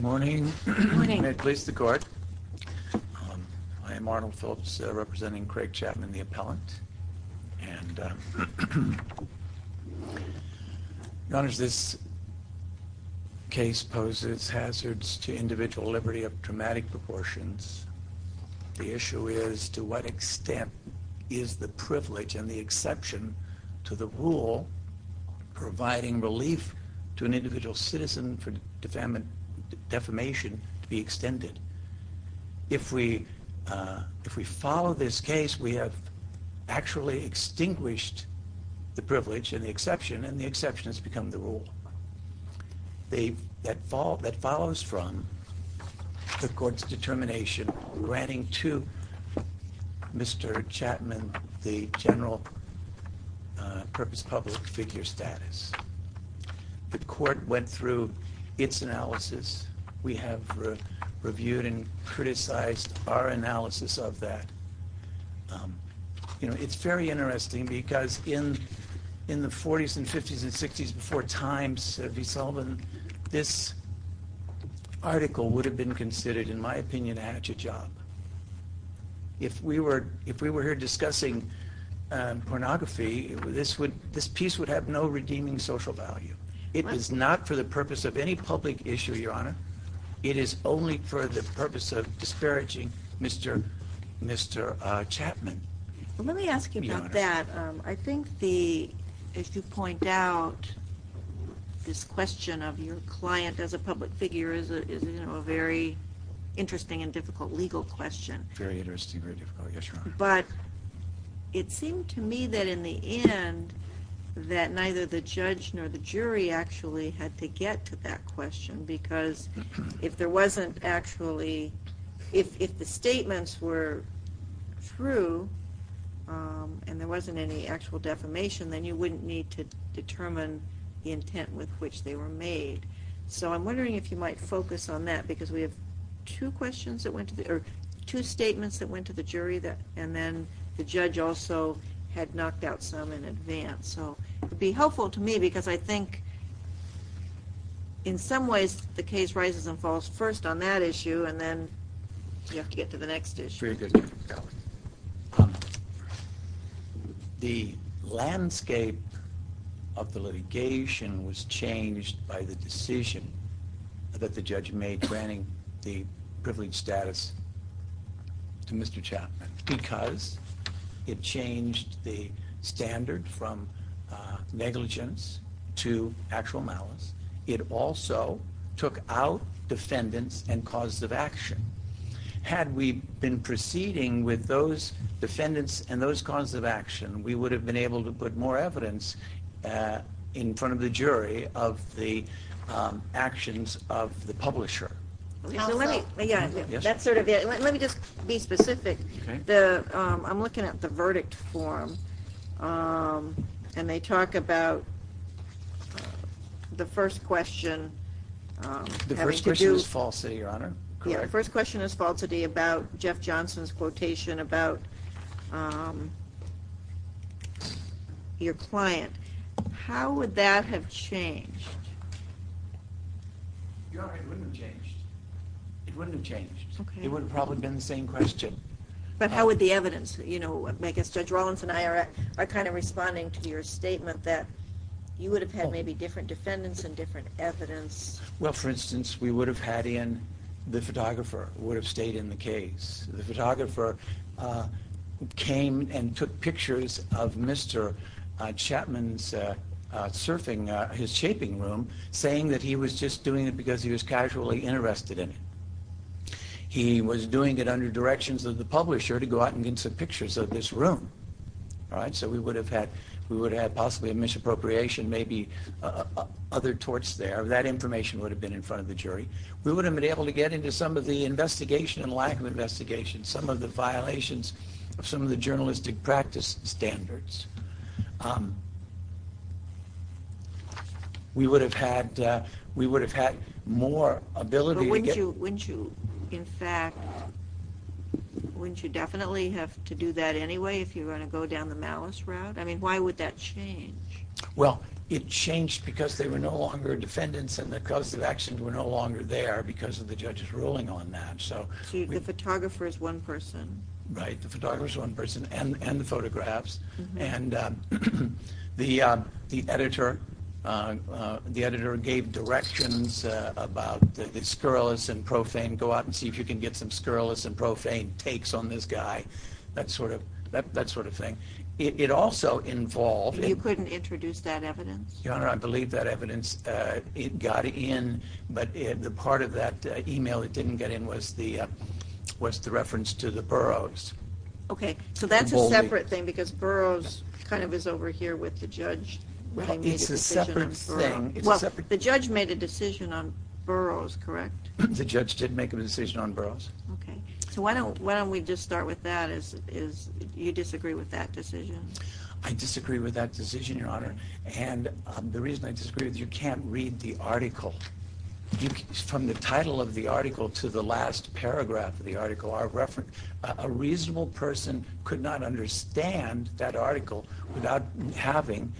Good morning. May it please the Court. I am Arnold Phillips, representing Craig Chapman, the appellant. Your Honor, this case poses hazards to individual liberty of dramatic proportions. The issue is, to what extent is the privilege and the exception to the rule providing relief to an individual citizen for defamation to be extended? If we follow this case, we have actually extinguished the privilege and the exception, and the exception has become the rule. That follows from the Court's determination granting to Mr. Chapman the general purpose public figure status. The Court went through its analysis. We have reviewed and criticized our analysis of that. It's very interesting because in the 40s and 50s and 60s, before Time's V. Sullivan, this article would have been considered, in my opinion, a hatchet job. If we were here discussing pornography, this piece would have no redeeming social value. It is not for the purpose of any public issue, Your Honor. It is only for the purpose of disparaging Mr. Chapman. Let me ask you about that. I think, as you point out, this question of your client as a public figure is a very interesting and difficult legal question. It seemed to me that in the end, neither the judge nor the jury had to get to that question. If the statements were true and there wasn't any actual defamation, then you wouldn't need to determine the intent with which they were made. I'm wondering if you might focus on that, because we have two statements that went to the jury, and then the judge also had knocked out some in advance. It would be helpful to me, because I think, in some ways, the case rises and falls first on that issue, and then you have to get to the next issue. The landscape of the litigation was changed by the decision that the judge made granting the privileged status to Mr. Chapman, because it changed the standard from negligence to actual malice. It also took out defendants and causes of action. Had we been proceeding with those defendants and those causes of action, we would have been able to put more evidence in front of the jury of the actions of the publisher. Let me just be specific. I'm looking at the verdict form, and they talk about the first question. The first question is falsity, Your Honor. The first question is falsity about Jeff Johnson's quotation about your client. How would that have changed? Your Honor, it wouldn't have changed. It wouldn't have changed. It would have probably been the same question. But how would the evidence? I guess Judge Rollins and I are kind of responding to your statement that you would have had maybe different defendants and different evidence. Well, for instance, we would have had in the photographer, would have stayed in the case. The photographer came and took pictures of Mr. Chapman's surfing, his shaping room, saying that he was just doing it because he was casually interested in it. He was doing it under directions of the publisher to go out and get some pictures of this room. All right? So we would have had possibly a misappropriation, maybe other torts there. That information would have been in front of the jury. We would have been able to get into some of the investigation and lack of investigation, some of the violations of some of the journalistic practice standards. We would have had more ability to get... But wouldn't you, in fact, wouldn't you definitely have to do that anyway if you were going to go down the malice route? I mean, why would that change? Well, it changed because there were no longer defendants and the cause of action were no longer there because of the judge's ruling on that. So the photographer is one person. Right. The photographer is one person and the photographs. And the editor gave directions about the scurrilous and profane, go out and see if you can get some scurrilous and profane takes on this guy, that sort of thing. It also involved... You couldn't introduce that evidence? Your Honor, I believe that evidence got in, but the part of that email that didn't get in was the reference to the Burroughs. Okay. So that's a separate thing because Burroughs kind of is over here with the judge. It's a separate thing. Well, the judge made a decision on Burroughs, correct? The judge did make a decision on Burroughs. Okay. So why don't we just start with that. You disagree with that decision? I disagree with that decision, Your Honor, and the reason I disagree is you can't read the article. From the title of the article to the last paragraph of the article, a reasonable person could not understand that article without having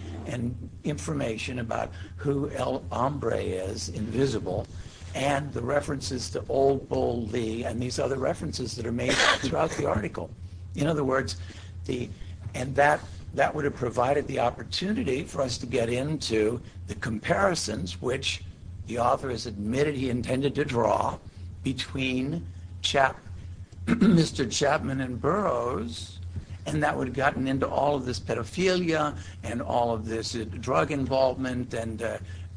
information about who El Hombre is, Invisible, and the references to Old Bull Lee and these other references that are made throughout the article. In other words, that would have provided the opportunity for us to get into the comparisons, which the author has admitted he intended to draw between Mr. Chapman and Burroughs, and that would have gotten into all of this pedophilia and all of this drug involvement and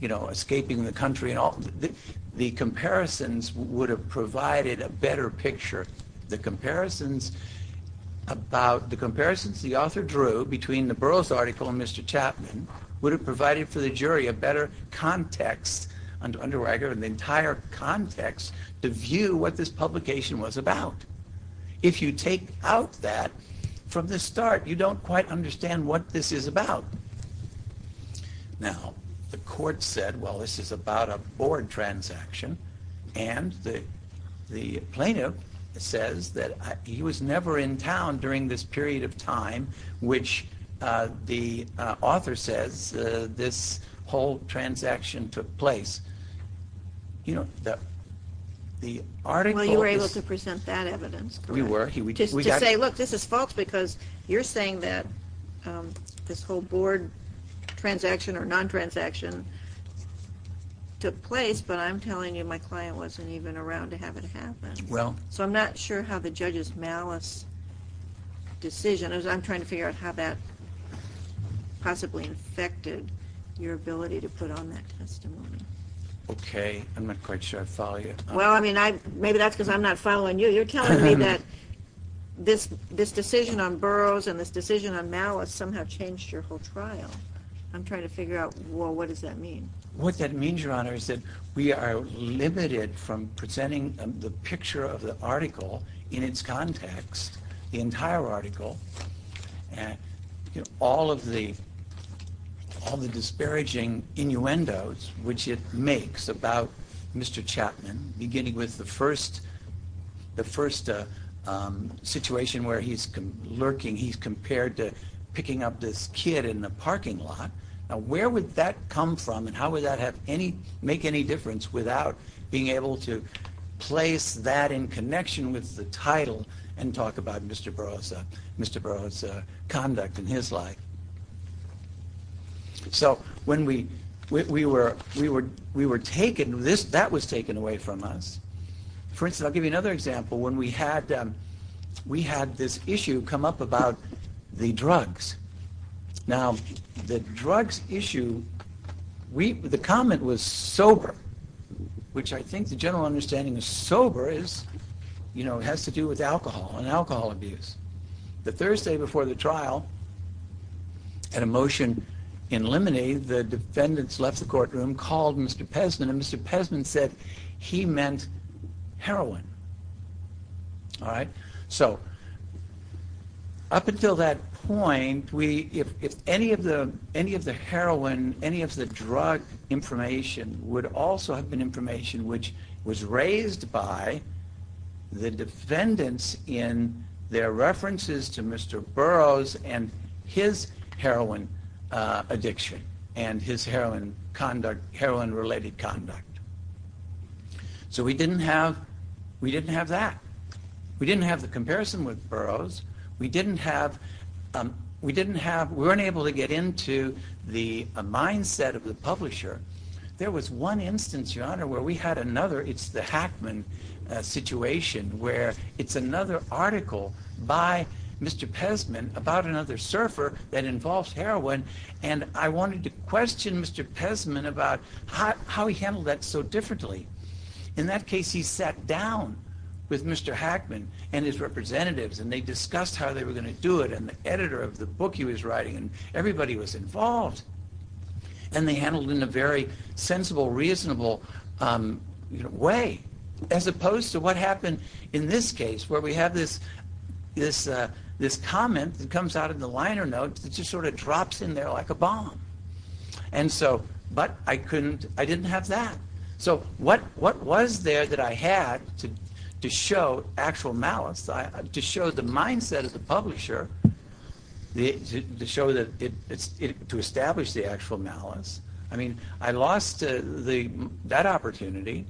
escaping the country. The comparisons would have provided a better picture. The comparisons the author drew between the Burroughs article and Mr. Chapman would have provided for the jury a better context, an underwriter, an entire context to view what this publication was about. If you take out that from the start, you don't quite understand what this is about. Now, the court said, well, this is about a board transaction, and the plaintiff says that he was never in town during this period of time, which the author says this whole transaction took place. You know, the article- Well, you were able to present that evidence, correct? We were. To say, look, this is false because you're saying that this whole board transaction or non-transaction took place, but I'm telling you my client wasn't even around to have it happen. Well- So I'm not sure how the judge's malice decision, I'm trying to figure out how that possibly affected your ability to put on that testimony. Okay, I'm not quite sure I follow you. Well, I mean, maybe that's because I'm not following you. You're telling me that this decision on Burroughs and this decision on malice somehow changed your whole trial. I'm trying to figure out, well, what does that mean? What that means, Your Honor, is that we are limited from presenting the picture of the article in its context, the entire article, all of the disparaging innuendos which it makes about Mr. Chapman, beginning with the first situation where he's lurking, he's compared to picking up this kid in the parking lot. Now, where would that come from and how would that make any difference without being able to place that in connection with the title and talk about Mr. Burroughs' conduct in his life? So when we were taken, that was taken away from us. For instance, I'll give you another example. When we had this issue come up about the drugs. Now, the drugs issue, the comment was sober, which I think the general understanding is sober has to do with alcohol and alcohol abuse. The Thursday before the trial, at a motion in limine, the defendants left the courtroom, called Mr. Pesman, and Mr. Pesman said he meant heroin. So up until that point, any of the heroin, any of the drug information would also have been information which was raised by the defendants in their references to Mr. Burroughs and his heroin addiction and his heroin-related conduct. So we didn't have that. We didn't have the comparison with Burroughs. We weren't able to get into the mindset of the publisher. There was one instance, Your Honor, where we had another, it's the Hackman situation, where it's another article by Mr. Pesman about another surfer that involves heroin, and I wanted to question Mr. Pesman about how he handled that so differently. In that case, he sat down with Mr. Hackman and his representatives, and they discussed how they were going to do it, and the editor of the book he was writing, and everybody was involved. And they handled it in a very sensible, reasonable way, as opposed to what happened in this case, where we have this comment that comes out of the liner note that just sort of drops in there like a bomb. But I didn't have that. So what was there that I had to show actual malice, to show the mindset of the publisher, to establish the actual malice? I mean, I lost that opportunity.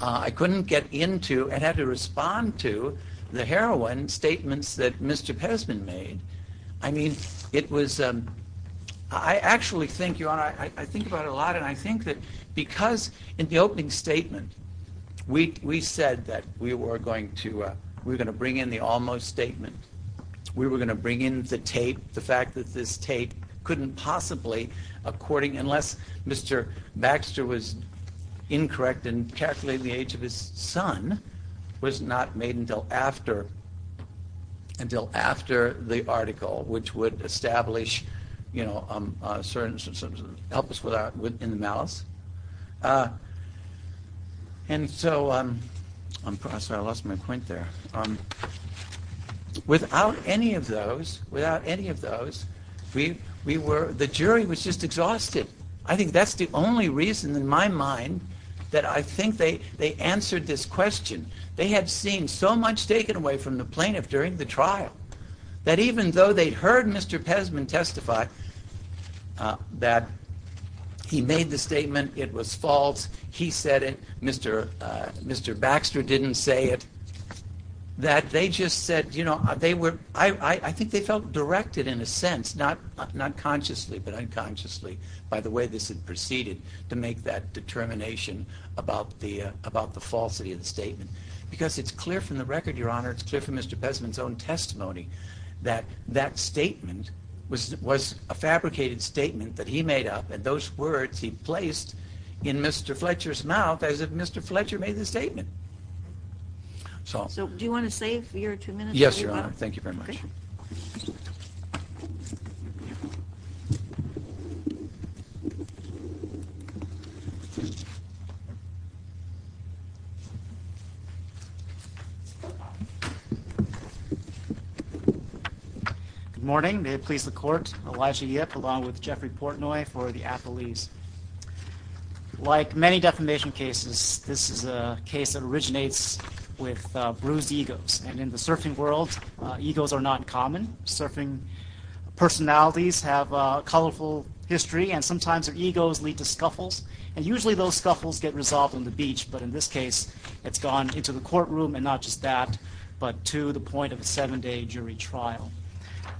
I couldn't get into and had to respond to the heroin statements that Mr. Pesman made. I mean, it was, I actually think, Your Honor, I think about it a lot, and I think that because in the opening statement, we said that we were going to bring in the almost statement. We were going to bring in the tape. The fact that this tape couldn't possibly, unless Mr. Baxter was incorrect in calculating the age of his son, was not made until after the article, which would help us in the malice. And so, I'm sorry, I lost my point there. Without any of those, without any of those, we were, the jury was just exhausted. I think that's the only reason in my mind that I think they answered this question. They had seen so much taken away from the plaintiff during the trial, that even though they'd heard Mr. Pesman testify that he made the statement, it was false, he said it, Mr. Baxter didn't say it, that they just said, you know, they were, I think they felt directed in a sense, not consciously, but unconsciously, by the way this had proceeded to make that determination about the falsity of the statement. Because it's clear from the record, Your Honor, it's clear from Mr. Pesman's own testimony, that that statement was a fabricated statement that he made up, and those words he placed in Mr. Fletcher's mouth as if Mr. Fletcher made the statement. So, do you want to save your two minutes? Yes, Your Honor, thank you very much. Good morning, may it please the court, Elijah Yip along with Jeffrey Portnoy for the appellees. Like many defamation cases, this is a case that originates with bruised egos, and in the surfing world, egos are not common. Surfing personalities have a colorful history, and sometimes their egos lead to scuffles, and usually those scuffles get resolved on the beach, but in this case, it's gone into the courtroom, and not just that, but to the point of a seven day jury trial.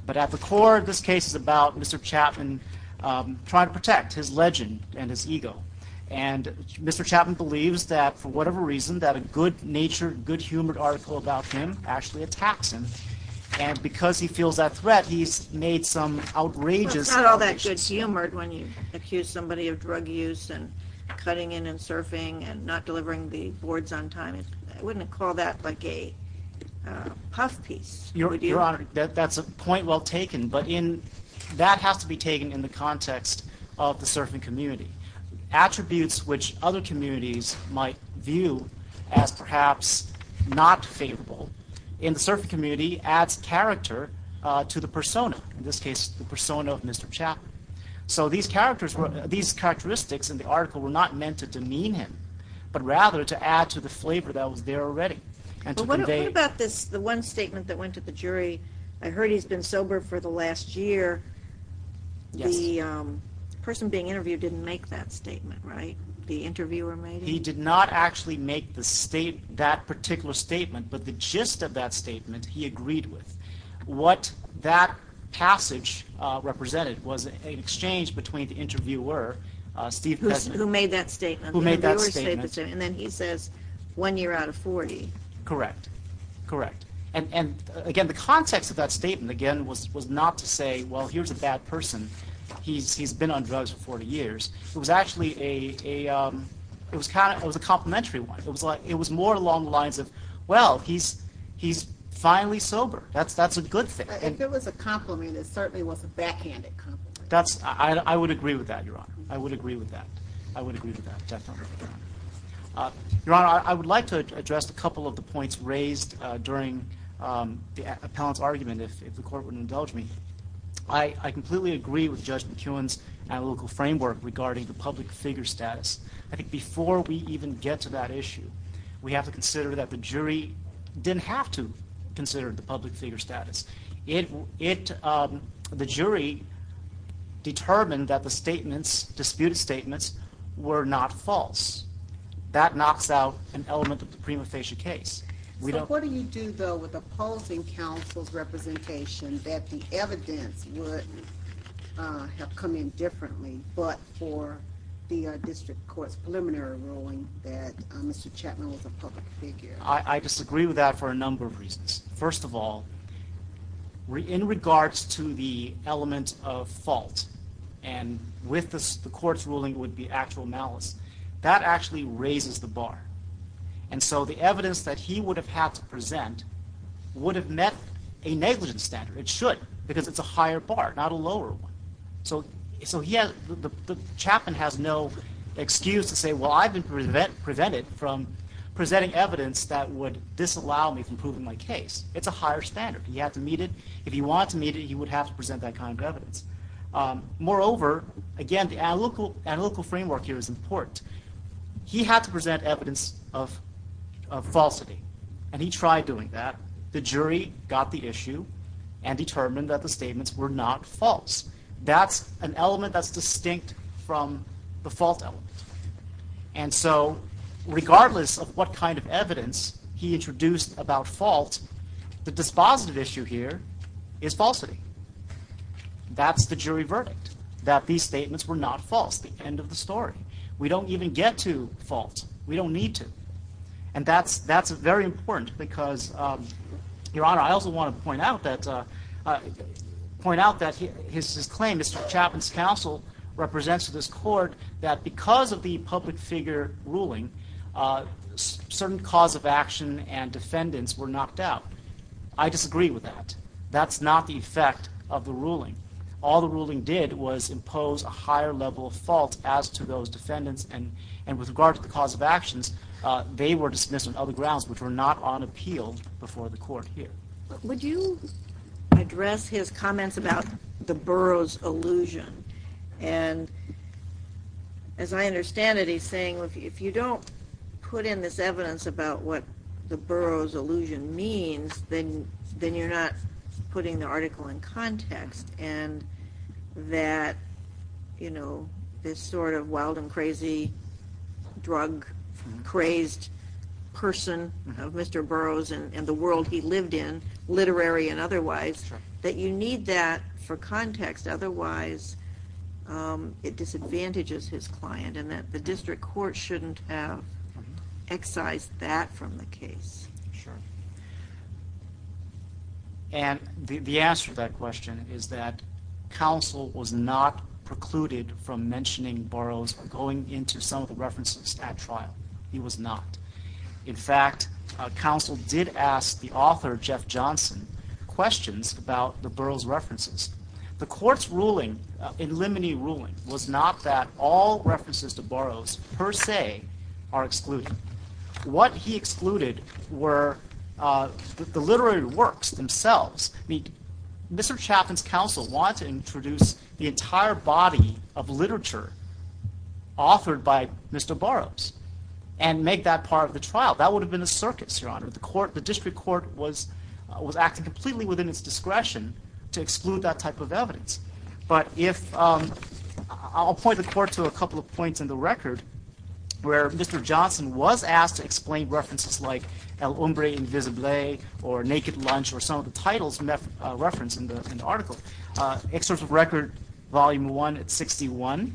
But at the core of this case is about Mr. Chapman trying to protect his legend and his ego. And Mr. Chapman believes that for whatever reason, that a good natured, good humored article about him actually attacks him, and because he feels that threat, he's made some outrageous allegations. Well, it's not all that good humored when you accuse somebody of drug use and cutting in and surfing and not delivering the boards on time. I wouldn't call that like a puff piece. Your Honor, that's a point well taken, but that has to be taken in the context of the surfing community. Attributes which other communities might view as perhaps not favorable in the surfing community adds character to the persona, in this case, the persona of Mr. Chapman. So these characteristics in the article were not meant to demean him, but rather to add to the flavor that was there already. But what about this, the one statement that went to the jury, I heard he's been sober for the last year. The person being interviewed didn't make that statement, right? The interviewer made it? He did not actually make that particular statement, but the gist of that statement he agreed with. What that passage represented was an exchange between the interviewer, Steve Kessler. Who made that statement? Who made that statement. And then he says, one year out of 40. Correct. Correct. And again, the context of that statement, again, was not to say, well, here's a bad person. He's been on drugs for 40 years. It was actually a, it was a complimentary one. It was more along the lines of, well, he's finally sober. That's a good thing. If it was a compliment, it certainly was a backhanded compliment. I would agree with that, Your Honor. I would agree with that. I would agree with that, definitely, Your Honor. Your Honor, I would like to address a couple of the points raised during the appellant's argument, if the court would indulge me. I completely agree with Judge McEwen's analytical framework regarding the public figure status. I think before we even get to that issue, we have to consider that the jury didn't have to consider the public figure status. The jury determined that the statements, disputed statements, were not false. That knocks out an element of the prima facie case. What do you do, though, with opposing counsel's representation that the evidence would have come in differently but for the district court's preliminary ruling that Mr. Chapman was a public figure? First of all, in regards to the element of fault, and with the court's ruling would be actual malice, that actually raises the bar. The evidence that he would have had to present would have met a negligence standard. It should because it's a higher bar, not a lower one. Chapman has no excuse to say, well, I've been prevented from presenting evidence that would disallow me from proving my case. It's a higher standard. He had to meet it. If he wanted to meet it, he would have to present that kind of evidence. Moreover, again, the analytical framework here is important. He had to present evidence of falsity, and he tried doing that. The jury got the issue and determined that the statements were not false. That's an element that's distinct from the fault element. And so regardless of what kind of evidence he introduced about fault, the dispositive issue here is falsity. That's the jury verdict, that these statements were not false, the end of the story. We don't even get to fault. We don't need to. And that's very important because, Your Honor, I also want to point out that his claim, Mr. Chapman's counsel, represents to this court that because of the public figure ruling, certain cause of action and defendants were knocked out. I disagree with that. That's not the effect of the ruling. All the ruling did was impose a higher level of fault as to those defendants. And with regard to the cause of actions, they were dismissed on other grounds which were not on appeal before the court here. Would you address his comments about the Burroughs illusion? And as I understand it, he's saying if you don't put in this evidence about what the Burroughs illusion means, then you're not putting the article in context. And that, you know, this sort of wild and crazy drug crazed person of Mr. Burroughs and the world he lived in, literary and otherwise, that you need that for context. Otherwise, it disadvantages his client and that the district court shouldn't have excised that from the case. Sure. And the answer to that question is that counsel was not precluded from mentioning Burroughs going into some of the references at trial. He was not. In fact, counsel did ask the author, Jeff Johnson, questions about the Burroughs references. The court's ruling, in limine ruling, was not that all references to Burroughs per se are excluded. What he excluded were the literary works themselves. I mean, Mr. Chaffin's counsel wanted to introduce the entire body of literature authored by Mr. Burroughs and make that part of the trial. That would have been a circus, Your Honor. The district court was acting completely within its discretion to exclude that type of evidence. I'll point the court to a couple of points in the record where Mr. Johnson was asked to explain references like El Hombre Invisible or Naked Lunch or some of the titles referenced in the article. Excerpt of Record Volume 1 at 61,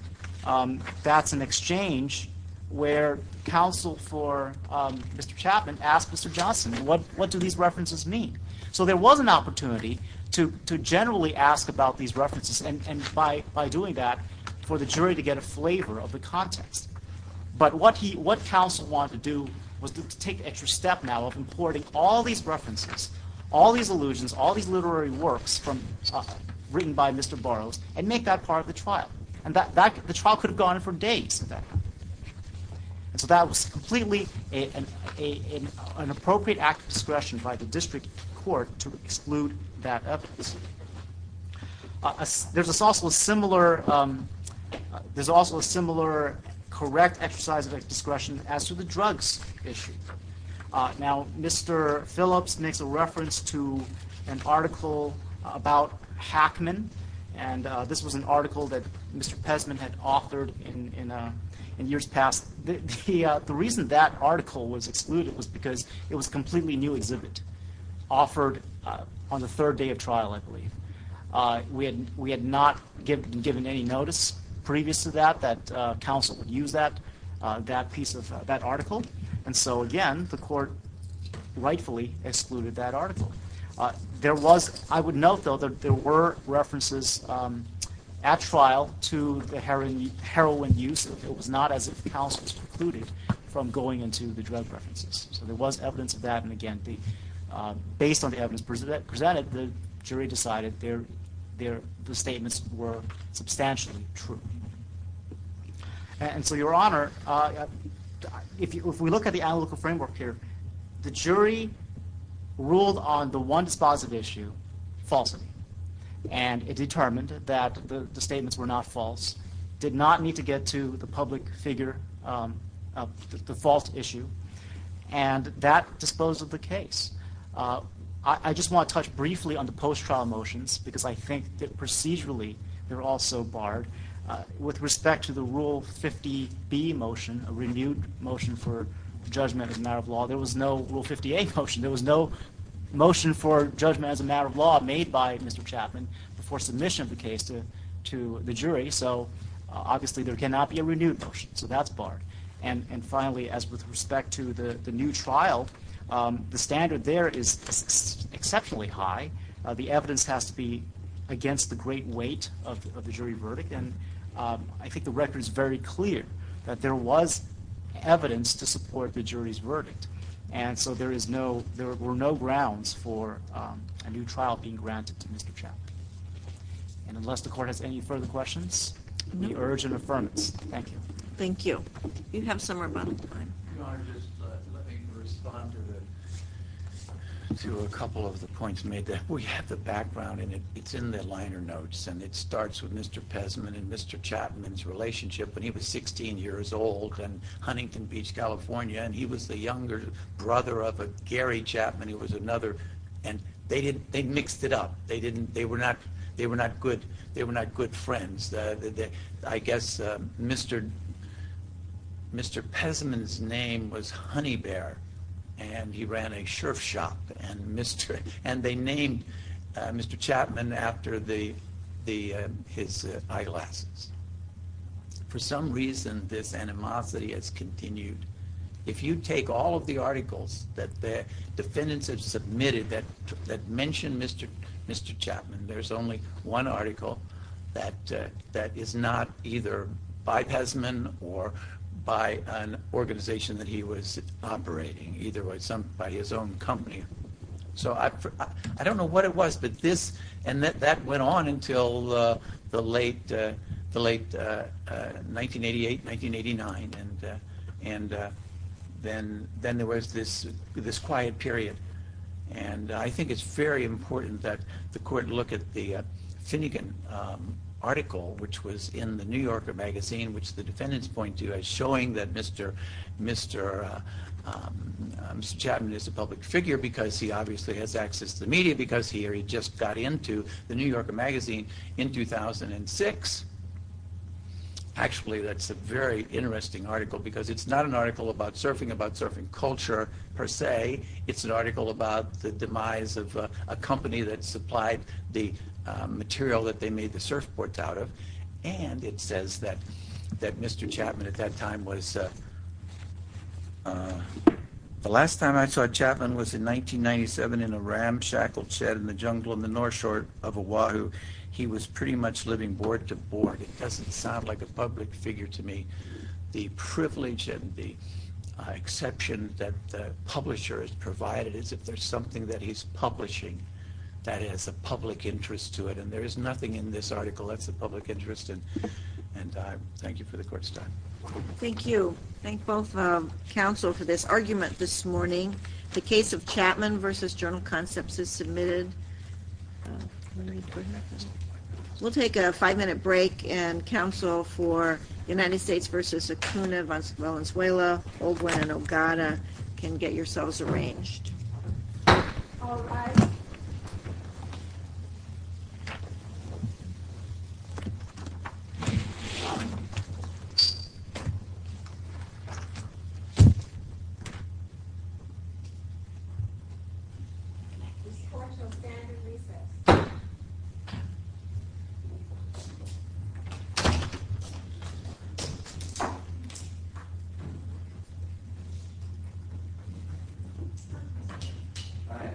that's an exchange where counsel for Mr. Chaffin asked Mr. Johnson, what do these references mean? So there was an opportunity to generally ask about these references, and by doing that, for the jury to get a flavor of the context. But what counsel wanted to do was to take the extra step now of importing all these references, all these allusions, all these literary works written by Mr. Burroughs and make that part of the trial. And the trial could have gone on for days. So that was completely an appropriate act of discretion by the district court to exclude that evidence. There's also a similar correct exercise of discretion as to the drugs issue. Now, Mr. Phillips makes a reference to an article about Hackman. And this was an article that Mr. Pesman had authored in years past. The reason that article was excluded was because it was a completely new exhibit offered on the third day of trial, I believe. We had not given any notice previous to that that counsel would use that piece of that article. And so, again, the court rightfully excluded that article. I would note, though, that there were references at trial to the heroin use. It was not as if counsel was precluded from going into the drug references. So there was evidence of that. And, again, based on the evidence presented, the jury decided the statements were substantially true. And so, Your Honor, if we look at the analytical framework here, the jury ruled on the one dispositive issue, falsity. And it determined that the statements were not false, did not need to get to the public figure, the false issue. And that disposed of the case. I just want to touch briefly on the post-trial motions because I think that procedurally they're also barred. With respect to the Rule 50B motion, a renewed motion for judgment as a matter of law, there was no Rule 50A motion. There was no motion for judgment as a matter of law made by Mr. Chapman before submission of the case to the jury. So, obviously, there cannot be a renewed motion. So that's barred. And, finally, as with respect to the new trial, the standard there is exceptionally high. The evidence has to be against the great weight of the jury verdict. And I think the record is very clear that there was evidence to support the jury's verdict. And so there were no grounds for a new trial being granted to Mr. Chapman. And unless the Court has any further questions, we urge an affirmance. Thank you. Thank you. You have some rebuttal time. Your Honor, just let me respond to a couple of the points made. We have the background, and it's in the liner notes. And it starts with Mr. Pesman and Mr. Chapman's relationship when he was 16 years old in Huntington Beach, California. And he was the younger brother of a Gary Chapman, who was another. And they mixed it up. They were not good friends. I guess Mr. Pesman's name was Honeybear, and he ran a sherf shop. And they named Mr. Chapman after his eyeglasses. For some reason, this animosity has continued. If you take all of the articles that the defendants have submitted that mention Mr. Chapman, there's only one article that is not either by Pesman or by an organization that he was operating, either by his own company. So I don't know what it was, but this and that went on until the late 1988, 1989. And then there was this quiet period. And I think it's very important that the court look at the Finnegan article, which was in the New Yorker magazine, which the defendants point to as showing that Mr. Chapman is a public figure, because he obviously has access to the media, because he just got into the New Yorker magazine in 2006. Actually, that's a very interesting article, because it's not an article about surfing, about surfing culture, per se. It's an article about the demise of a company that supplied the material that they made the surfboards out of. And it says that Mr. Chapman at that time was – the last time I saw Chapman was in 1997 in a ramshackle shed in the jungle in the north shore of Oahu. He was pretty much living board to board. It doesn't sound like a public figure to me. The privilege and the exception that the publisher has provided is if there's something that he's publishing that has a public interest to it. And there is nothing in this article that's of public interest. And thank you for the court's time. Thank you. Thank both counsel for this argument this morning. The case of Chapman v. Journal Concepts is submitted. We'll take a five-minute break. And counsel for United States v. Acuna v. Valenzuela, Olguin, and Ogana can get yourselves arranged. All rise. This court shall stand and recess. All right. Thank you.